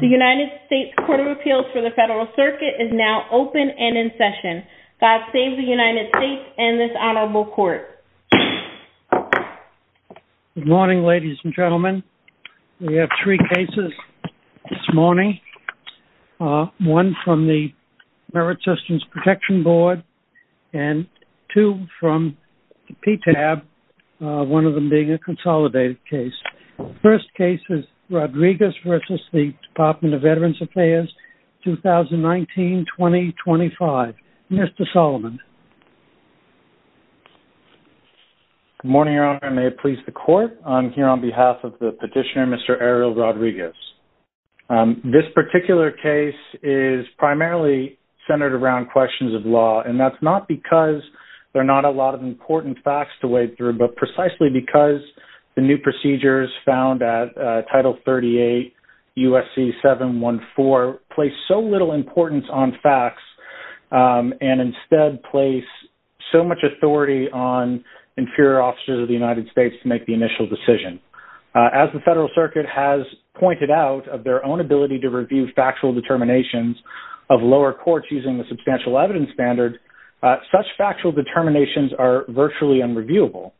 The United States Court of Appeals for the Federal Circuit is now open and in session. God save the United States and this honorable court. Good morning, ladies and gentlemen. We have three cases this morning, one from the Merit Systems Protection Board and two from PTAB, one of them being a consolidated case. The first case is Rodriguez v. Department of Veterans Affairs, 2019-2025. Mr. Solomon. Good morning, Your Honor. May it please the court. I'm here on behalf of the petitioner, Mr. Ariel Rodriguez. This particular case is primarily centered around questions of law and that's not because there are not a lot of important facts to wade through but precisely because the new procedures found at Title 38 U.S.C. 714 place so little importance on facts and instead place so much authority on inferior officers of the United States to make the initial decision. As the Federal Circuit has pointed out of their own ability to review factual determinations of lower courts using the substantial evidence standard, such factual determinations are virtually unreviewable.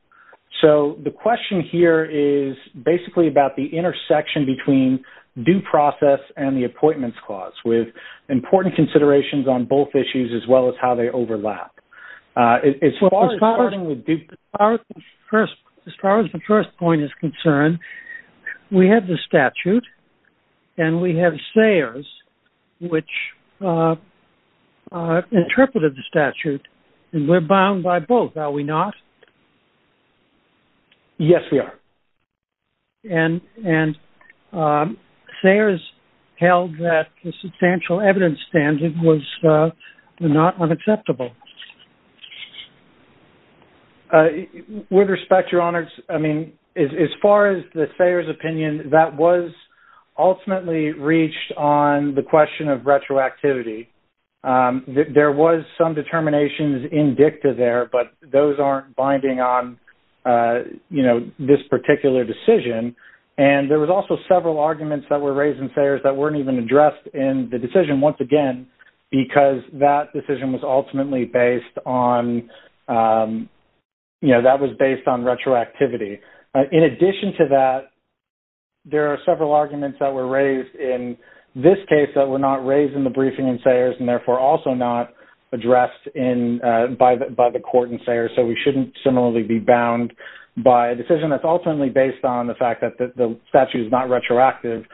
So the question here is basically about the intersection between due process and the appointments clause with important considerations on both issues as well as how they overlap. As far as the first point is concerned, we have the statute and we have stayers which interpreted the statute and we're bound by both, are we not? Yes, we are. And stayers held that the substantial evidence standard was not unacceptable. With respect, Your Honors, I mean, as far as the stayers' opinion, that was ultimately reached on the question of retroactivity. There was some determinations in dicta there, but those aren't binding on, you know, this particular decision. And there was also several arguments that were raised in stayers that weren't even addressed in the decision once again because that decision was ultimately based on, you know, that was based on retroactivity. In addition to that, there are several arguments that were raised in this case that were not raised in the briefing in stayers and therefore also not addressed by the court in stayers. So we shouldn't similarly be bound by a decision that's ultimately based on the fact that the statute is not retroactive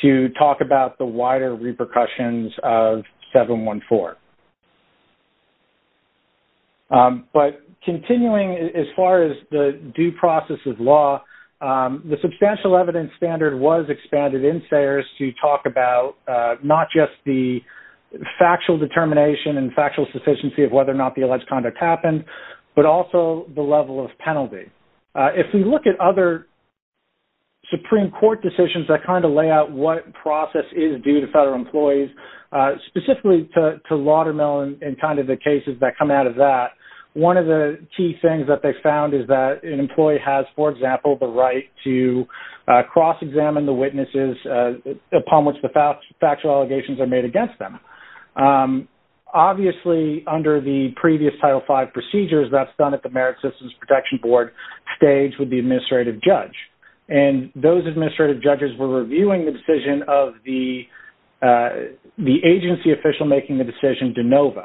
to talk about the wider repercussions of 714. But continuing as far as the due process of law, the substantial evidence standard was expanded in stayers to talk about not just the factual determination and factual sufficiency of whether or not the alleged conduct happened, but also the level of penalty. If we look at other Supreme Court decisions that kind of lay out what process is due to Laudermill and kind of the cases that come out of that, one of the key things that they found is that an employee has, for example, the right to cross-examine the witnesses upon which the factual allegations are made against them. Obviously, under the previous Title V procedures that's done at the Merit Systems Protection Board stage with the administrative judge. And those administrative judges were reviewing the decision of the agency official making the decision de novo.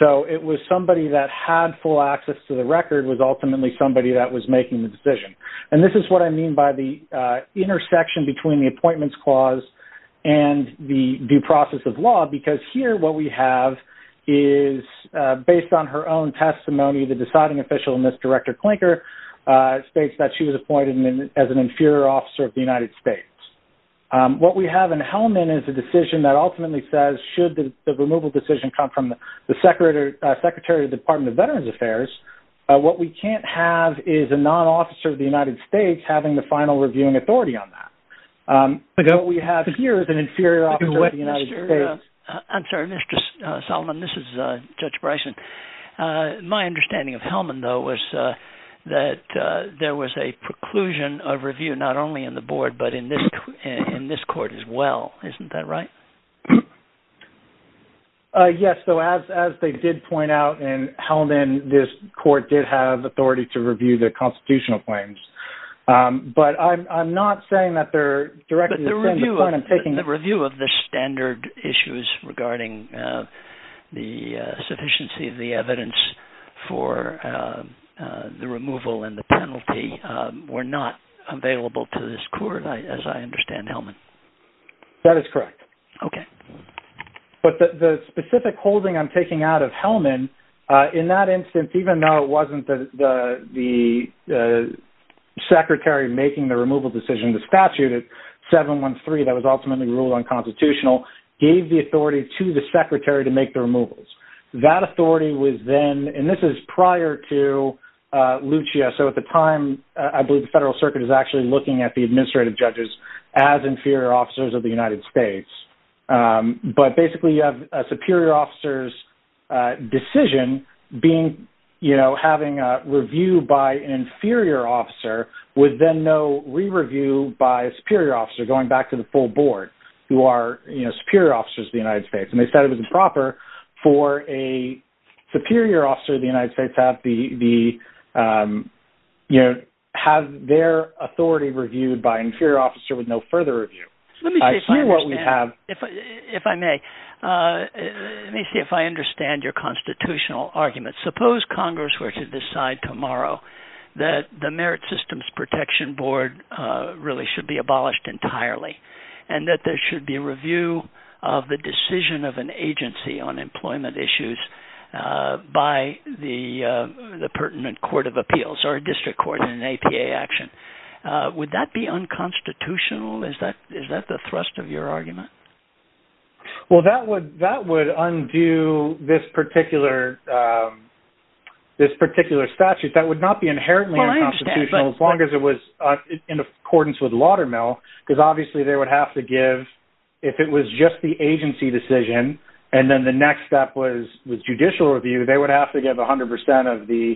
So it was somebody that had full access to the record was ultimately somebody that was making the decision. And this is what I mean by the intersection between the appointments clause and the due process of law, because here what we have is based on her own testimony, the deciding official in this, Director Klinker, states that she was appointed as an inferior officer of the United States. What we have in Hellman is a decision that ultimately says should the removal decision come from the Secretary of the Department of Veterans Affairs, what we can't have is a non-officer of the United States having the final reviewing authority on that. But what we have here is an inferior officer of the United States. I'm sorry, Mr. Solomon. This is Judge Bryson. My understanding of Hellman, though, was that there was a preclusion of review not only in the board, but in this court as well. Isn't that right? Yes. So as they did point out in Hellman, this court did have authority to review the constitutional claims. But I'm not saying that they're directly defending the point I'm taking. But the review of the standard issues regarding the sufficiency of the evidence for the removal and the penalty were not available to this court, as I understand Hellman. That is correct. Okay. But the specific holding I'm taking out of Hellman, in that instance, even though it wasn't the Secretary making the removal decision, the statute at 713 that was ultimately ruled unconstitutional, gave the authority to the Secretary to make the removals. That authority was then, and this is prior to Lucia. So at the time, I believe the Federal Circuit is actually looking at the administrative judges as inferior officers of the United States. But basically, you have a superior officer's decision being, you know, having a review by an inferior officer with then no re-review by a superior officer going back to the full board who are, you know, superior officers of the United States. And they said it was improper for a superior officer of the United States to have their authority reviewed by an inferior officer with no further review. Let me see if I understand. I see what we have. If I may. Let me see if I understand your constitutional argument. Suppose Congress were to decide tomorrow that the Merit Systems Protection Board really should be abolished entirely and that there should be a review of the decision of an agency on employment issues by the pertinent court of appeals or a district court in an APA action. Would that be unconstitutional? Is that the thrust of your argument? Well, that would undo this particular statute. That would not be inherently unconstitutional as long as it was in accordance with Laudermill because obviously, they would have to give, if it was just the agency decision and then the next step was with judicial review, they would have to give 100% of the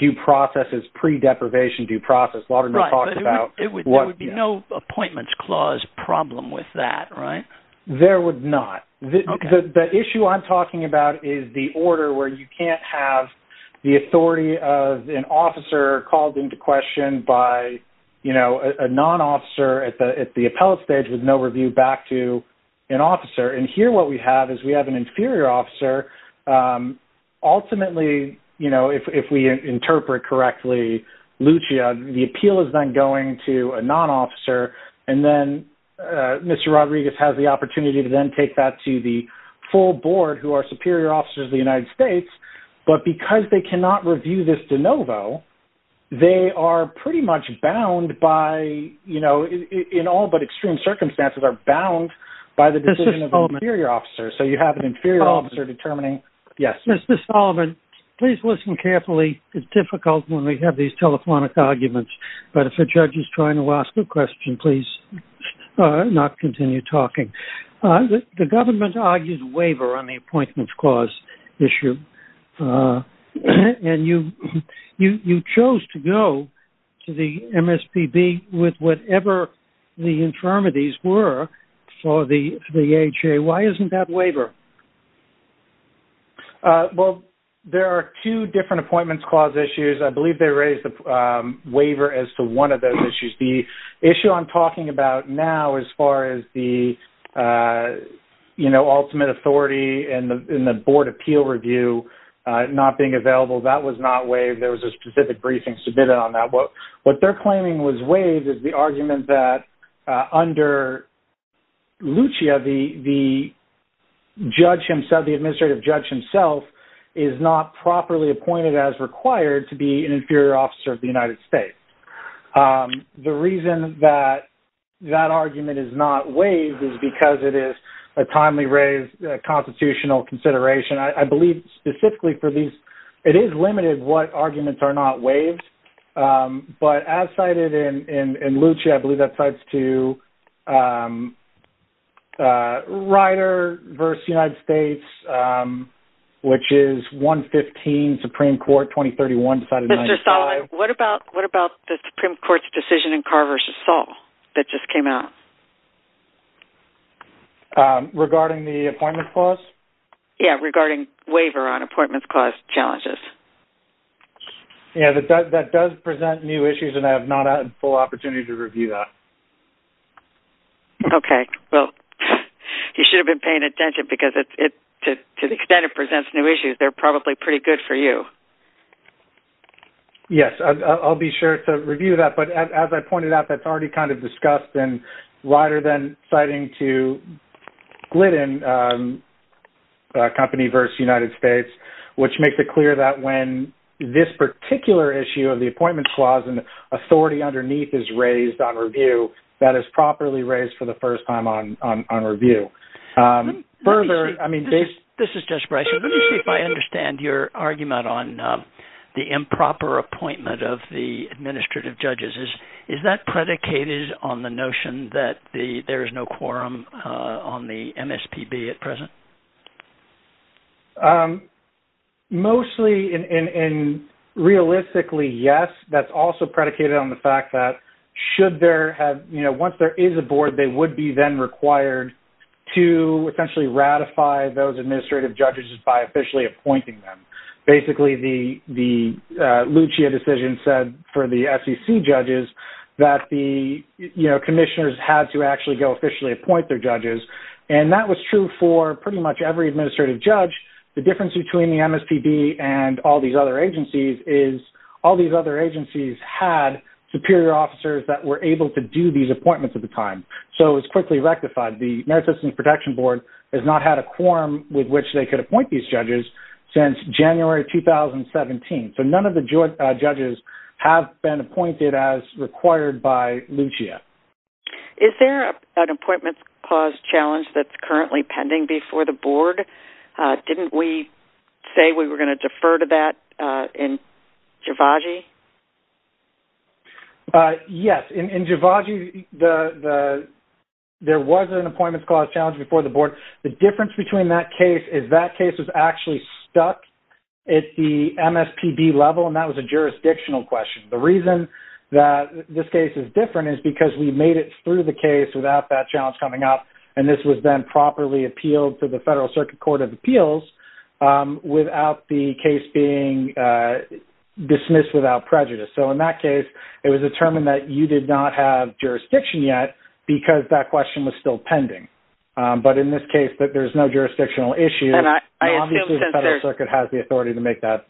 due process as pre-deprivation due process. Laudermill talked about... There would be no appointments clause problem with that, right? There would not. The issue I'm talking about is the order where you can't have the authority of an officer called into question by a non-officer at the appellate stage with no review back to an officer and here what we have is we have an inferior officer. Ultimately, if we interpret correctly, Lucia, the appeal is then going to a non-officer and then Mr. Rodriguez has the opportunity to then take that to the full board who are superior officers of the United States, but because they cannot review this de novo, they are pretty much bound by, in all but extreme circumstances, are bound by the decision of an inferior officer. So you have an inferior officer determining... Mr. Solomon, please listen carefully. It's difficult when we have these telephonic arguments, but if a judge is trying to ask a question, please not continue talking. The government argues waiver on the appointments clause issue and you chose to go to the MSPB with whatever the infirmities were for the HA. Why isn't that waiver? Well, there are two different appointments clause issues. I believe they raised the waiver as to one of those issues. The issue I'm talking about now as far as the, you know, ultimate authority and the board appeal review not being available, that was not waived. There was a specific briefing submitted on that. What they're claiming was waived is the argument that under Lucia, the judge himself, the administrative judge himself is not properly appointed as required to be an inferior officer of the United States. The reason that that argument is not waived is because it is a timely raised constitutional consideration. I believe specifically for these, it is limited what arguments are not waived, but as cited in Lucia, I believe that cites to Ryder versus United States, which is 115 Supreme Court 2031 decided 95. Mr. Solomon, what about the Supreme Court's decision in Carr versus Saul that just came out? Regarding the appointment clause? Yeah, regarding waiver on appointment clause challenges. Yeah, that does present new issues and I have not had a full opportunity to review that. Okay. Well, you should have been paying attention because to the extent it presents new issues, they're probably pretty good for you. Yes, I'll be sure to review that, but as I pointed out, that's already kind of discussed in Ryder than citing to Glidden company versus United States, which makes it clear that when this particular issue of the appointment clause and authority underneath is raised on review, that is properly raised for the first time on review. This is Jesse Bryson. Let me see if I understand your argument on the improper appointment of the administrative judges. Is that predicated on the notion that there is no quorum on the MSPB at present? Mostly and realistically, yes. That's also predicated on the fact that once there is a board, they would be then required to essentially ratify those administrative judges by officially appointing them. Basically, the Lucia decision said for the SEC judges that the commissioners had to actually go officially appoint their judges and that was true for pretty much every administrative judge. The difference between the MSPB and all these other agencies is all these other agencies had superior officers that were able to do these appointments at the time, so it was quickly rectified. The Merit Systems Protection Board has not had a quorum with which they could appoint these judges since January 2017, so none of the judges have been appointed as required by Lucia. Is there an appointment clause challenge that's currently pending before the board? Didn't we say we were going to defer to that in Javaji? Yes. In Javaji, there was an appointment clause challenge before the board. The difference between that case is that case was actually stuck at the MSPB level and that was a jurisdictional question. The reason that this case is different is because we made it through the case without that challenge coming up and this was then properly appealed to the Federal Circuit Court of Appeals without the case being dismissed without prejudice. In that case, it was determined that you did not have jurisdiction yet because that question was still pending, but in this case, there's no jurisdictional issue. Obviously, the Federal Circuit has the authority to make that.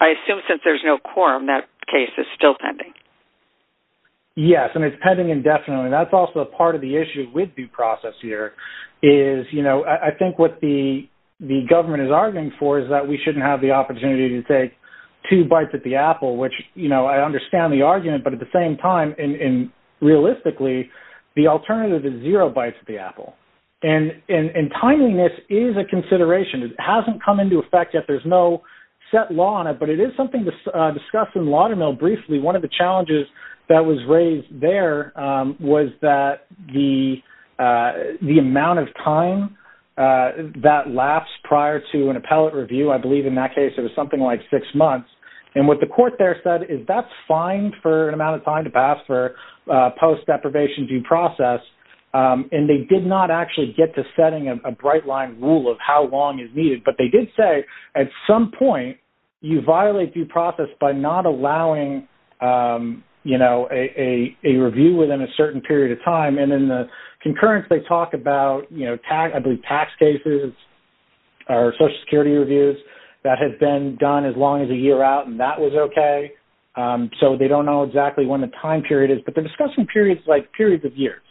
I assume since there's no quorum, that case is still pending. Yes, and it's pending indefinitely. That's also a part of the issue with due process here is I think what the government is arguing for is that we shouldn't have the opportunity to take two bites at the apple. I understand the argument, but at the same time, realistically, the alternative is zero bites at the apple. Timeliness is a consideration. It hasn't come into effect yet. There's no set law on it, but it is something discussed in Laudermill briefly. One of the challenges that was raised there was that the amount of time that lasts prior to an appellate review, I believe in that case, it was something like six months. What the court there said is that's fine for an amount of time to pass for post-deprivation due process. They did not actually get to setting a bright-line rule of how long is needed, but they did say at some point, you violate due process by not allowing a review within a certain period of time. In the concurrence, they talk about tax cases or Social Security reviews that have been done as long as a year out, and that was okay. They don't know exactly when the time period is, but they're discussing periods like periods of years.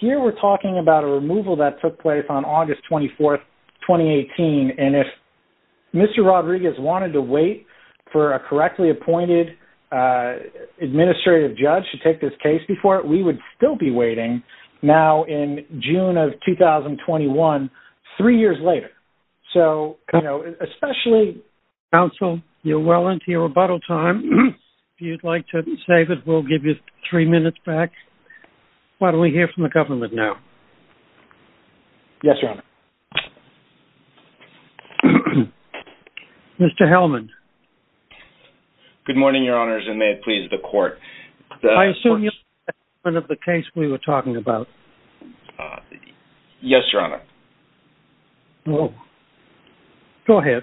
Here, we're talking about a removal that took place on August 24, 2018. If Mr. Rodriguez wanted to wait for a correctly appointed administrative judge to take this case before, we would still be waiting now in June of 2021, three years later. Counsel, you're well into your rebuttal time. If you'd like to save it, we'll give you three minutes back. Why don't we hear from the government now? Yes, Your Honor. Mr. Hellman. Good morning, Your Honors, and may it please the court. I assume you're talking about the case we were talking about. Yes, Your Honor. Go ahead.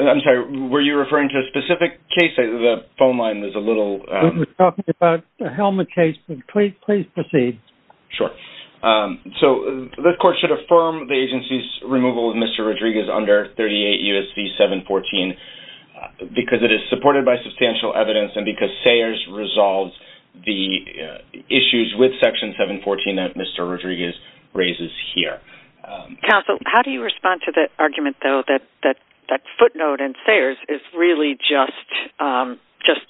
I'm sorry. Were you referring to a specific case? The phone line is a little... We're talking about the Hellman case. Please proceed. Sure. So, this court should affirm the agency's removal of Mr. Rodriguez under 38 U.S.C. 714 because it is supported by substantial evidence and because Sayers resolves the issues with Section 714 that Mr. Rodriguez raises here. Counsel, how do you respond to the argument, though, that footnote in Sayers is really just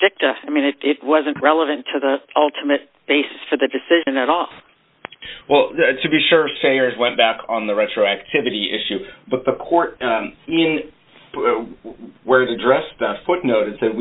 dicta? I mean, it wasn't relevant to the ultimate basis for the decision at all. Well, to be sure, Sayers went back on the retroactivity issue. But the court, where it addressed that footnote, it said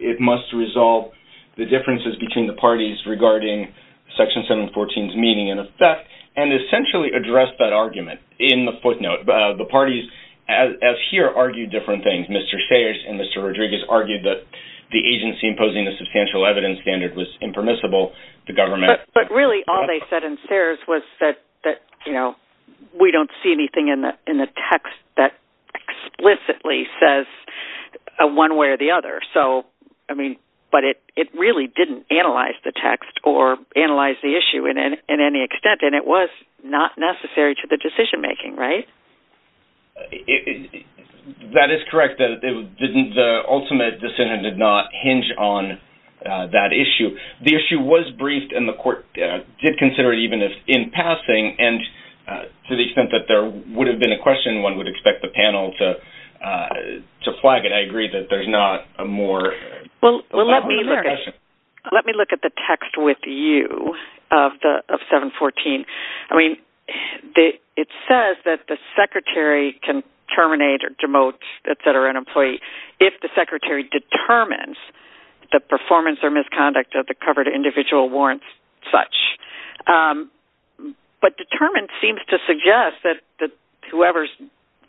it must resolve the differences between the parties regarding Section 714's meaning and effect, and essentially addressed that argument in the footnote. The parties, as here, argued different things. Mr. Sayers and Mr. Rodriguez argued that the agency imposing the substantial evidence standard was impermissible. The government... But really, all they said in Sayers was that, you know, we don't see anything in the text that explicitly says one way or the other. So, I mean, but it really didn't analyze the text or analyze the issue in any extent. And it was not necessary to the decision-making, right? That is correct. The ultimate decision did not hinge on that issue. The issue was briefed, and the court did consider it even in passing. And to the extent that there would have been a question, one would expect the panel to flag it. I agree that there's not a more... Well, let me look at the text with you of 714. I mean, it says that the secretary can terminate or demote, et cetera, an employee if the secretary determines the performance or misconduct of the covered individual warrants such. But determined seems to suggest that whoever's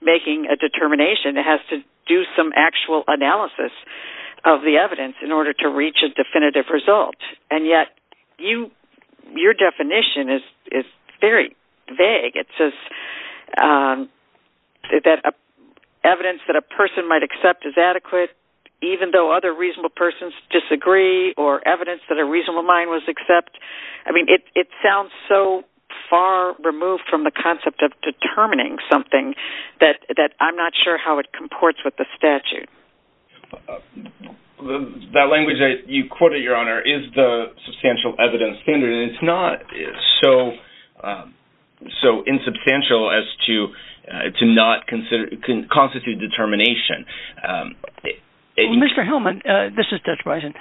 making a determination has to do some actual analysis of the evidence in order to reach a definitive result. And yet your definition is very vague. It says that evidence that a person might accept is adequate even though other reasonable persons disagree or evidence that a reasonable mind would accept. I mean, it sounds so far removed from the concept of determining something that I'm not sure how it comports with the statute. That language that you quoted, Your Honor, is the substantial evidence standard. It's not so insubstantial as to not constitute determination. Mr. Hellman, this is Judge Bison.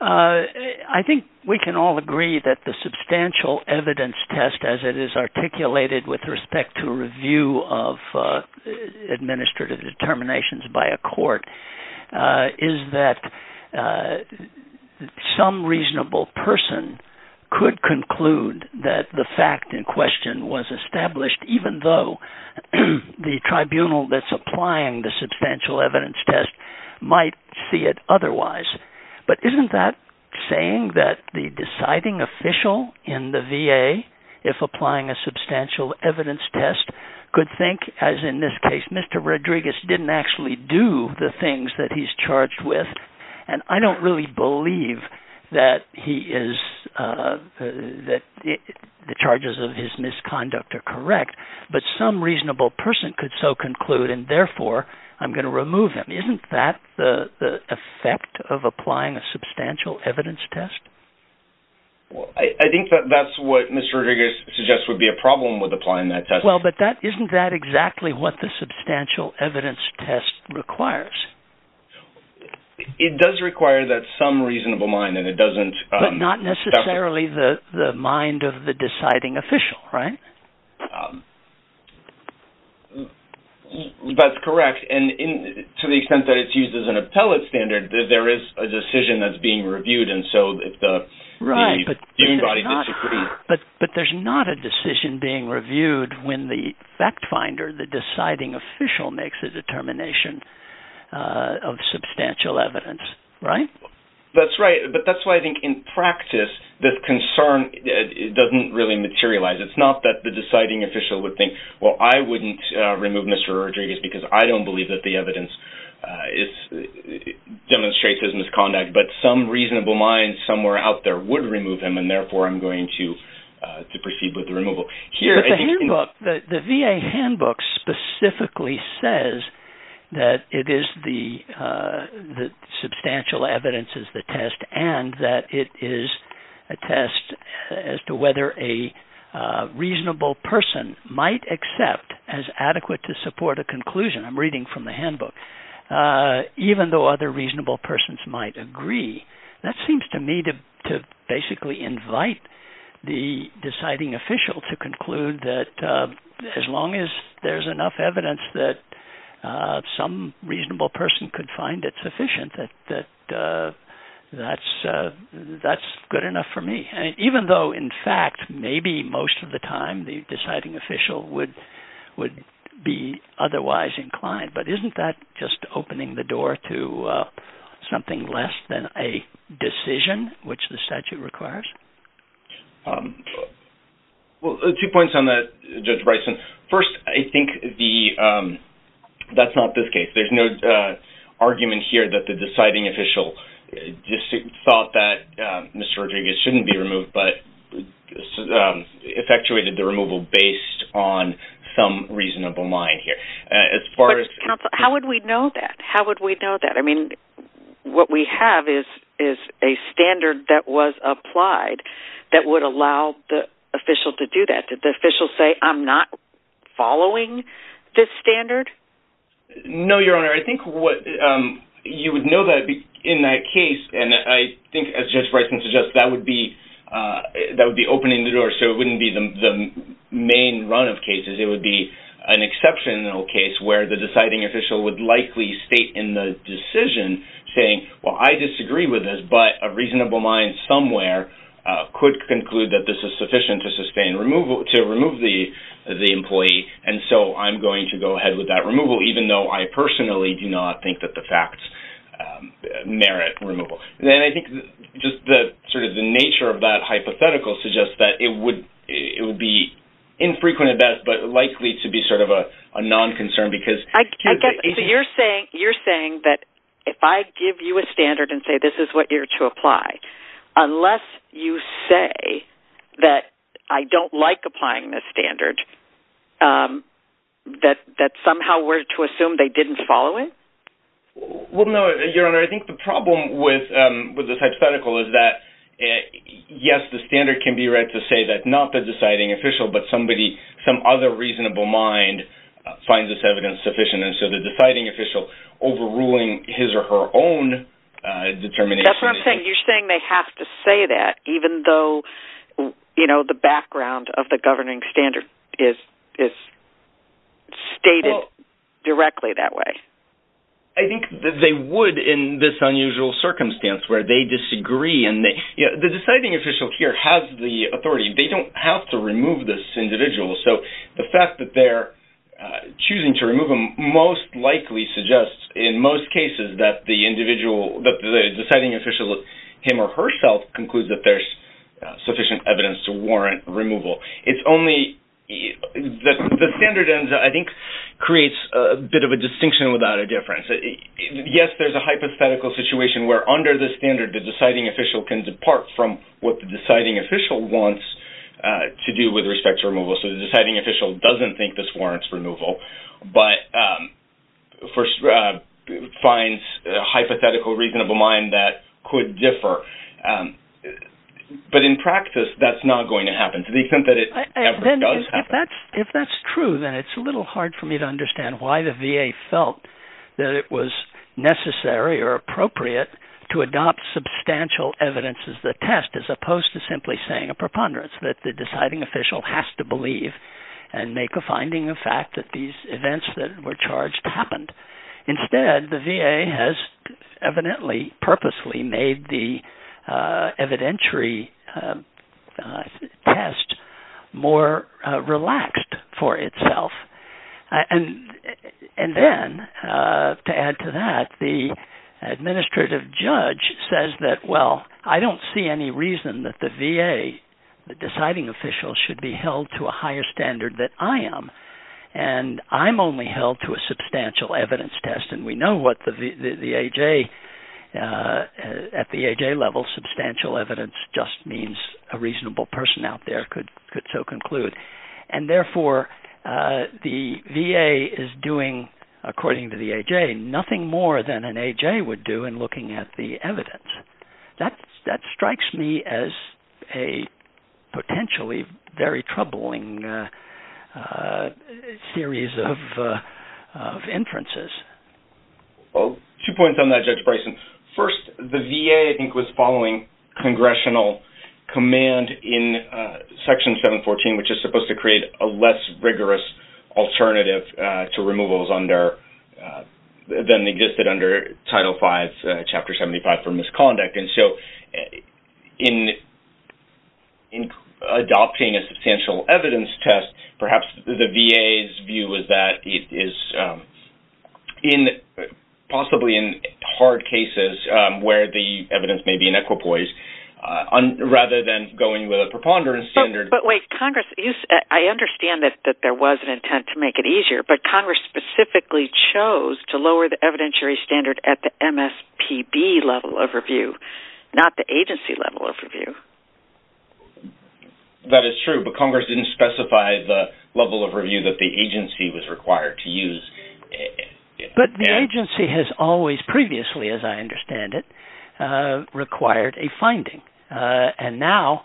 I think we can all agree that the substantial evidence test as it is articulated with respect to review of administrative determinations by a court is that some reasonable person could conclude that the fact in question was established even though the tribunal that's applying the substantial evidence test might see it otherwise. But isn't that saying that the deciding official in the VA, if applying a substantial evidence test, could think, as in this case, Mr. Rodriguez didn't actually do the things that he's charged with? And I don't really believe that the charges of his misconduct are correct. But some reasonable person could so conclude, and therefore, I'm going to remove him. Isn't that the effect of applying a substantial evidence test? I think that's what Mr. Rodriguez suggests would be a problem with applying that test. Well, but isn't that exactly what the substantial evidence test requires? It does require that some reasonable mind, and it doesn't... But not necessarily the mind of the deciding official, right? That's correct. And to the extent that it's used as an appellate standard, there is a decision that's being reviewed, and so if the... Right, but there's not a decision being reviewed when the fact finder, the deciding official, makes a determination of substantial evidence, right? That's right. But that's why I think in practice, this concern doesn't really materialize. It's not that the deciding official would think, well, I wouldn't remove Mr. Rodriguez because I don't believe that the evidence demonstrates his misconduct, but some reasonable mind somewhere out there would remove him, and therefore, I'm going to proceed with the removal. But the handbook, the VA handbook specifically says that it is the substantial evidence is the test, and that it is a test as to whether a reasonable person might accept as adequate to support a conclusion. I'm reading from the handbook. Even though other reasonable persons might agree, that seems to me to basically invite the deciding official to conclude that as long as there's enough evidence that some reasonable person could find it sufficient, that that's good enough for me. Even though, in fact, maybe most of the time the deciding official would be otherwise inclined, but isn't that just opening the door to something less than a decision, which the statute requires? Well, two points on that, Judge Bryson. First, I think that's not this case. There's no argument here that the deciding official thought that Mr. Rodriguez shouldn't be removed, but effectuated the removal based on some reasonable mind here. But, counsel, how would we know that? How would we know that? I mean, what we have is a standard that was applied that would allow the official to do that. Did the official say, I'm not following this standard? No, Your Honor. I think you would know that in that case, and I think, as Judge Bryson suggests, that would be opening the door, so it wouldn't be the main run of cases. It would be an exceptional case where the deciding official would likely state in the decision saying, well, I disagree with this, but a reasonable mind somewhere could conclude that this is sufficient to remove the employee, and so I'm going to go ahead with that removal, even though I personally do not think that the facts merit removal. And I think just sort of the nature of that hypothetical suggests that it would be infrequent at best, but likely to be sort of a non-concern because... So you're saying that if I give you a standard and say this is what you're to apply, unless you say that I don't like applying this standard, that somehow we're to assume they didn't follow it? Well, no, Your Honor. I think the problem with this hypothetical is that, yes, the standard can be read to say that not the deciding official, but somebody, some other reasonable mind, finds this evidence sufficient, and so the deciding official overruling his or her own determination... So you're saying they have to say that even though the background of the governing standard is stated directly that way? I think that they would in this unusual circumstance where they disagree. The deciding official here has the authority. They don't have to remove this individual, so the fact that they're choosing to remove him most likely suggests in most cases that the deciding official, him or herself, concludes that there's sufficient evidence to warrant removal. It's only the standard, I think, creates a bit of a distinction without a difference. Yes, there's a hypothetical situation where, under the standard, the deciding official can depart from what the deciding official wants to do with respect to removal, so the deciding official doesn't think this warrants removal, but finds a hypothetical reasonable mind that could differ. But in practice, that's not going to happen to the extent that it ever does happen. If that's true, then it's a little hard for me to understand why the VA felt that it was necessary or appropriate to adopt substantial evidence as the test as opposed to simply saying a preponderance, that the deciding official has to believe and make a finding of fact that these events that were charged happened. Instead, the VA has evidently purposely made the evidentiary test more relaxed for itself. And then, to add to that, the administrative judge says that, well, I don't see any reason that the VA, the deciding official, should be held to a higher standard than I am, and I'm only held to a substantial evidence test. And we know what the A.J. at the A.J. level, substantial evidence, just means a reasonable person out there could so conclude. And therefore, the VA is doing, according to the A.J., nothing more than an A.J. would do in looking at the evidence. That strikes me as a potentially very troubling series of inferences. Well, two points on that, Judge Bryson. First, the VA, I think, was following congressional command in Section 714, which is supposed to create a less rigorous alternative to removals than existed under Title V, Chapter 75, for misconduct. And so, in adopting a substantial evidence test, perhaps the VA's view is that it is possibly in hard cases where the evidence may be an equipoise, rather than going with a preponderance standard. But wait, Congress, I understand that there was an intent to make it easier, but Congress specifically chose to lower the evidentiary standard at the MSPB level of review, not the agency level of review. That is true, but Congress didn't specify the level of review that the agency was required to use. But the agency has always previously, as I understand it, required a finding. And now,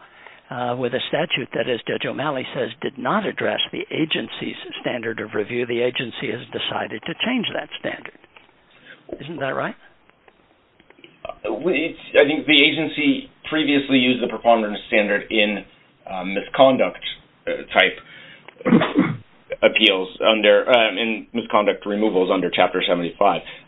with a statute that, as Judge O'Malley says, did not address the agency's standard of review, the agency has decided to change that standard. Isn't that right? I think the agency previously used the preponderance standard in misconduct-type appeals, in misconduct removals under Chapter 75.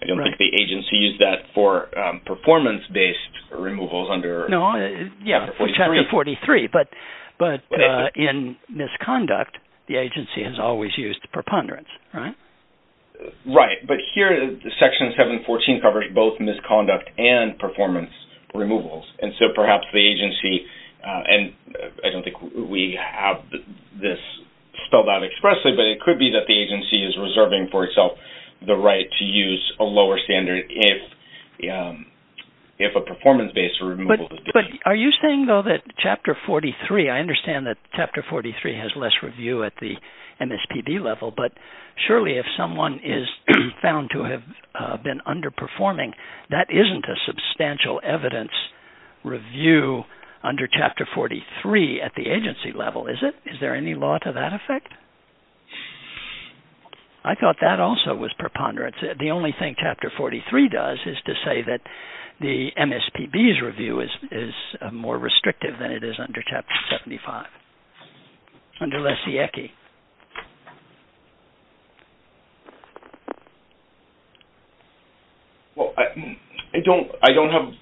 I don't think the agency used that for performance-based removals under Chapter 43. But in misconduct, the agency has always used preponderance, right? Right. But here, Section 714 covers both misconduct and performance removals. And so, perhaps the agency-and I don't think we have this spelled out expressly, but it could be that the agency is reserving for itself the right to use a lower standard if a performance-based removal is issued. But are you saying, though, that Chapter 43-I understand that Chapter 43 has less review at the MSPB level, but surely if someone is found to have been underperforming, that isn't a substantial evidence review under Chapter 43 at the agency level, is it? Is there any law to that effect? I thought that also was preponderance. The only thing Chapter 43 does is to say that the MSPB's review is more restrictive than it is under Chapter 75. Under Lesiecki. Well, I don't have-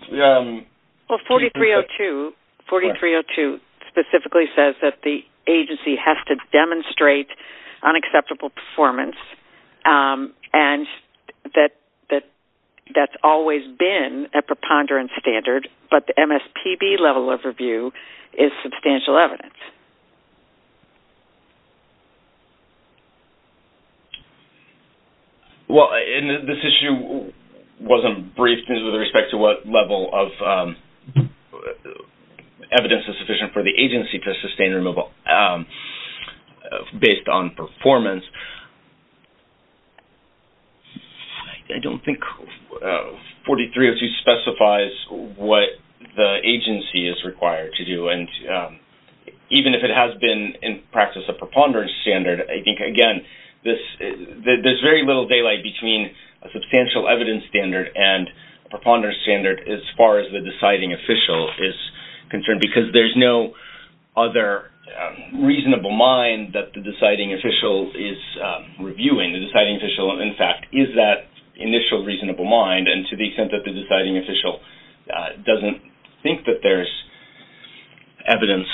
Well, 4302 specifically says that the agency has to demonstrate unacceptable performance and that that's always been a preponderance standard, but the MSPB level of review is substantial evidence. Well, and this issue wasn't briefed with respect to what level of evidence is sufficient for the agency to sustain removal based on performance. I don't think 4302 specifies what the agency is required to do, and even if it has been in practice a preponderance standard, I think, again, there's very little daylight between a substantial evidence standard and a preponderance standard as far as the deciding official is concerned, because there's no other reasonable mind that the deciding official is reviewing. The deciding official, in fact, is that initial reasonable mind, and to the extent that the deciding official doesn't think that there's evidence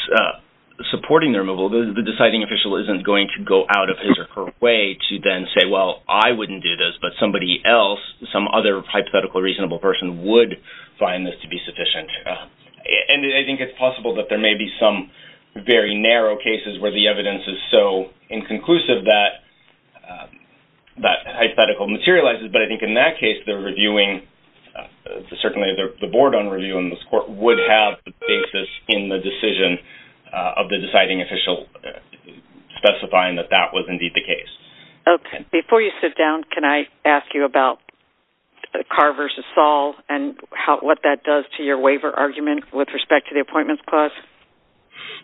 supporting their removal, the deciding official isn't going to go out of his or her way to then say, well, I wouldn't do this, but somebody else, some other hypothetical reasonable person, would find this to be sufficient. And I think it's possible that there may be some very narrow cases where the evidence is so inconclusive that that hypothetical materializes, but I think in that case, they're reviewing- certainly the board on review in this court would have the basis in the decision of the deciding official specifying that that was indeed the case. Before you sit down, can I ask you about Carr v. Saul and what that does to your waiver argument with respect to the appointments clause?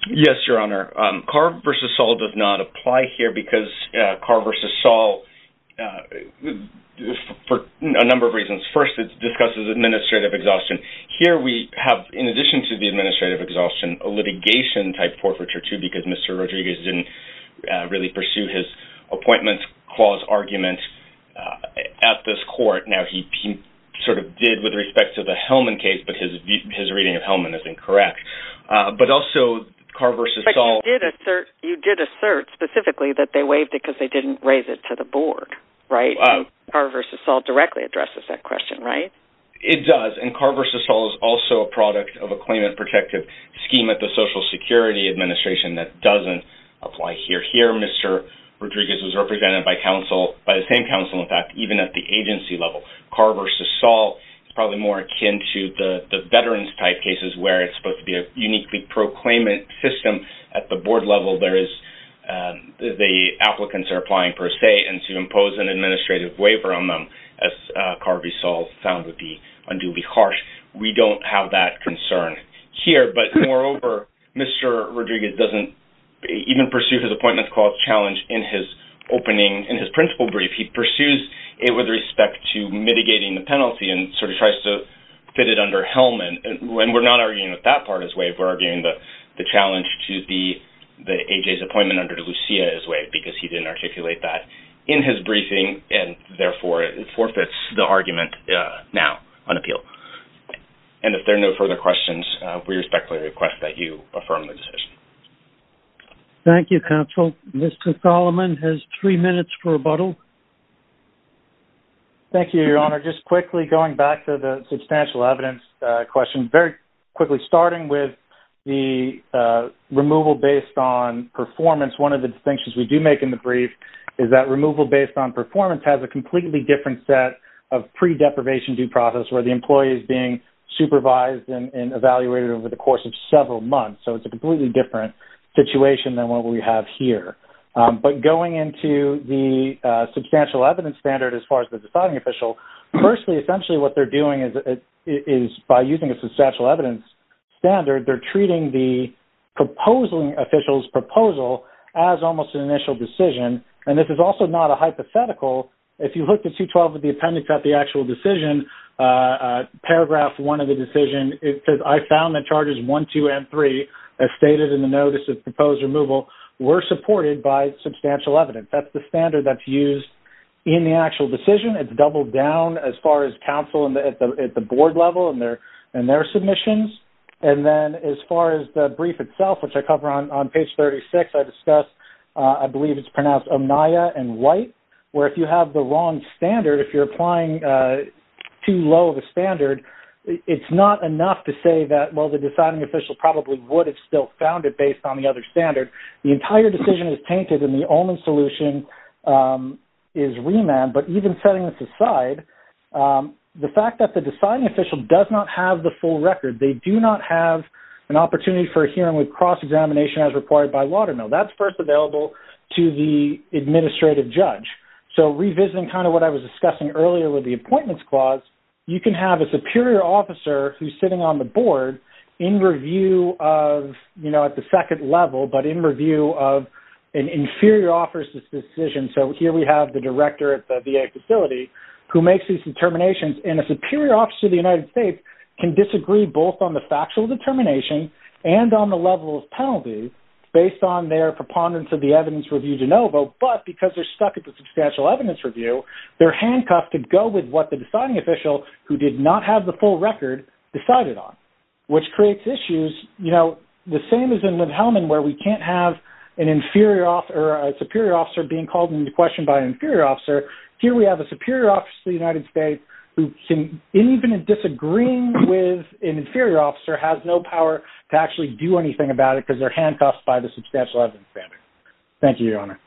Yes, Your Honor. Carr v. Saul does not apply here because Carr v. Saul, for a number of reasons. First, it discusses administrative exhaustion. Here we have, in addition to the administrative exhaustion, a litigation-type forfeiture, too, because Mr. Rodriguez didn't really pursue his appointments clause argument at this court. Now, he sort of did with respect to the Hellman case, but his reading of Hellman is incorrect. But also, Carr v. Saul- But you did assert specifically that they waived it because they didn't raise it to the board, right? And Carr v. Saul directly addresses that question, right? It does, and Carr v. Saul is also a product of a claimant protective scheme at the Social Security Administration that doesn't apply here. Here, Mr. Rodriguez was represented by the same counsel, in fact, even at the agency level. Carr v. Saul is probably more akin to the veterans-type cases where it's supposed to be a uniquely proclaimant system. At the board level, the applicants are applying per se, and to impose an administrative waiver on them, as Carr v. Saul found to be unduly harsh, we don't have that concern here. But moreover, Mr. Rodriguez doesn't even pursue his appointments clause challenge in his opening- in his principal brief. He pursues it with respect to mitigating the penalty and sort of tries to fit it under Hellman. And we're not arguing that that part is waived. We're arguing the challenge to the- AJ's appointment under Lucia is waived because he didn't articulate that in his briefing, and therefore it forfeits the argument now on appeal. And if there are no further questions, we respectfully request that you affirm the decision. Thank you, counsel. Mr. Solomon has three minutes for rebuttal. Thank you, Your Honor. Just quickly, going back to the substantial evidence question, very quickly, starting with the removal based on performance, one of the distinctions we do make in the brief is that removal based on performance has a completely different set of pre-deprivation due process, where the employee is being supervised and evaluated over the course of several months. So it's a completely different situation than what we have here. But going into the substantial evidence standard as far as the deciding official, firstly, essentially what they're doing is by using a substantial evidence standard, they're treating the proposing official's proposal as almost an initial decision. And this is also not a hypothetical. If you look at 212 of the appendix at the actual decision, paragraph 1 of the decision, it says, I found that charges 1, 2, and 3, as stated in the notice of proposed removal, were supported by substantial evidence. That's the standard that's used in the actual decision. It's doubled down as far as counsel at the board level and their submissions. And then as far as the brief itself, which I cover on page 36, I discussed, I believe it's pronounced omnia and white, where if you have the wrong standard, if you're applying too low of a standard, it's not enough to say that, well, the deciding official probably would have still found it based on the other standard. The entire decision is tainted, and the only solution is remand. But even setting this aside, the fact that the deciding official does not have the full record, they do not have an opportunity for a hearing with cross-examination as required by Watermill. That's first available to the administrative judge. So revisiting kind of what I was discussing earlier with the appointments clause, you can have a superior officer who's sitting on the board in review of, you know, at the second level, but in review of an inferior officer's decision. So here we have the director at the VA facility who makes these determinations, and a superior officer of the United States can disagree both on the factual determination and on the level of penalty based on their preponderance of the evidence review de novo, but because they're stuck at the substantial evidence review, their handcuffs could go with what the deciding official, who did not have the full record, decided on, which creates issues, you know, the same as in Linn-Hellman, where we can't have an inferior officer or a superior officer being called into question by an inferior officer. Here we have a superior officer of the United States who can, even in disagreeing with an inferior officer, has no power to actually do anything about it because they're handcuffed by the substantial evidence standard. Thank you, Your Honor.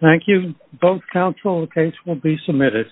Thank you. Both counsel, the case will be submitted.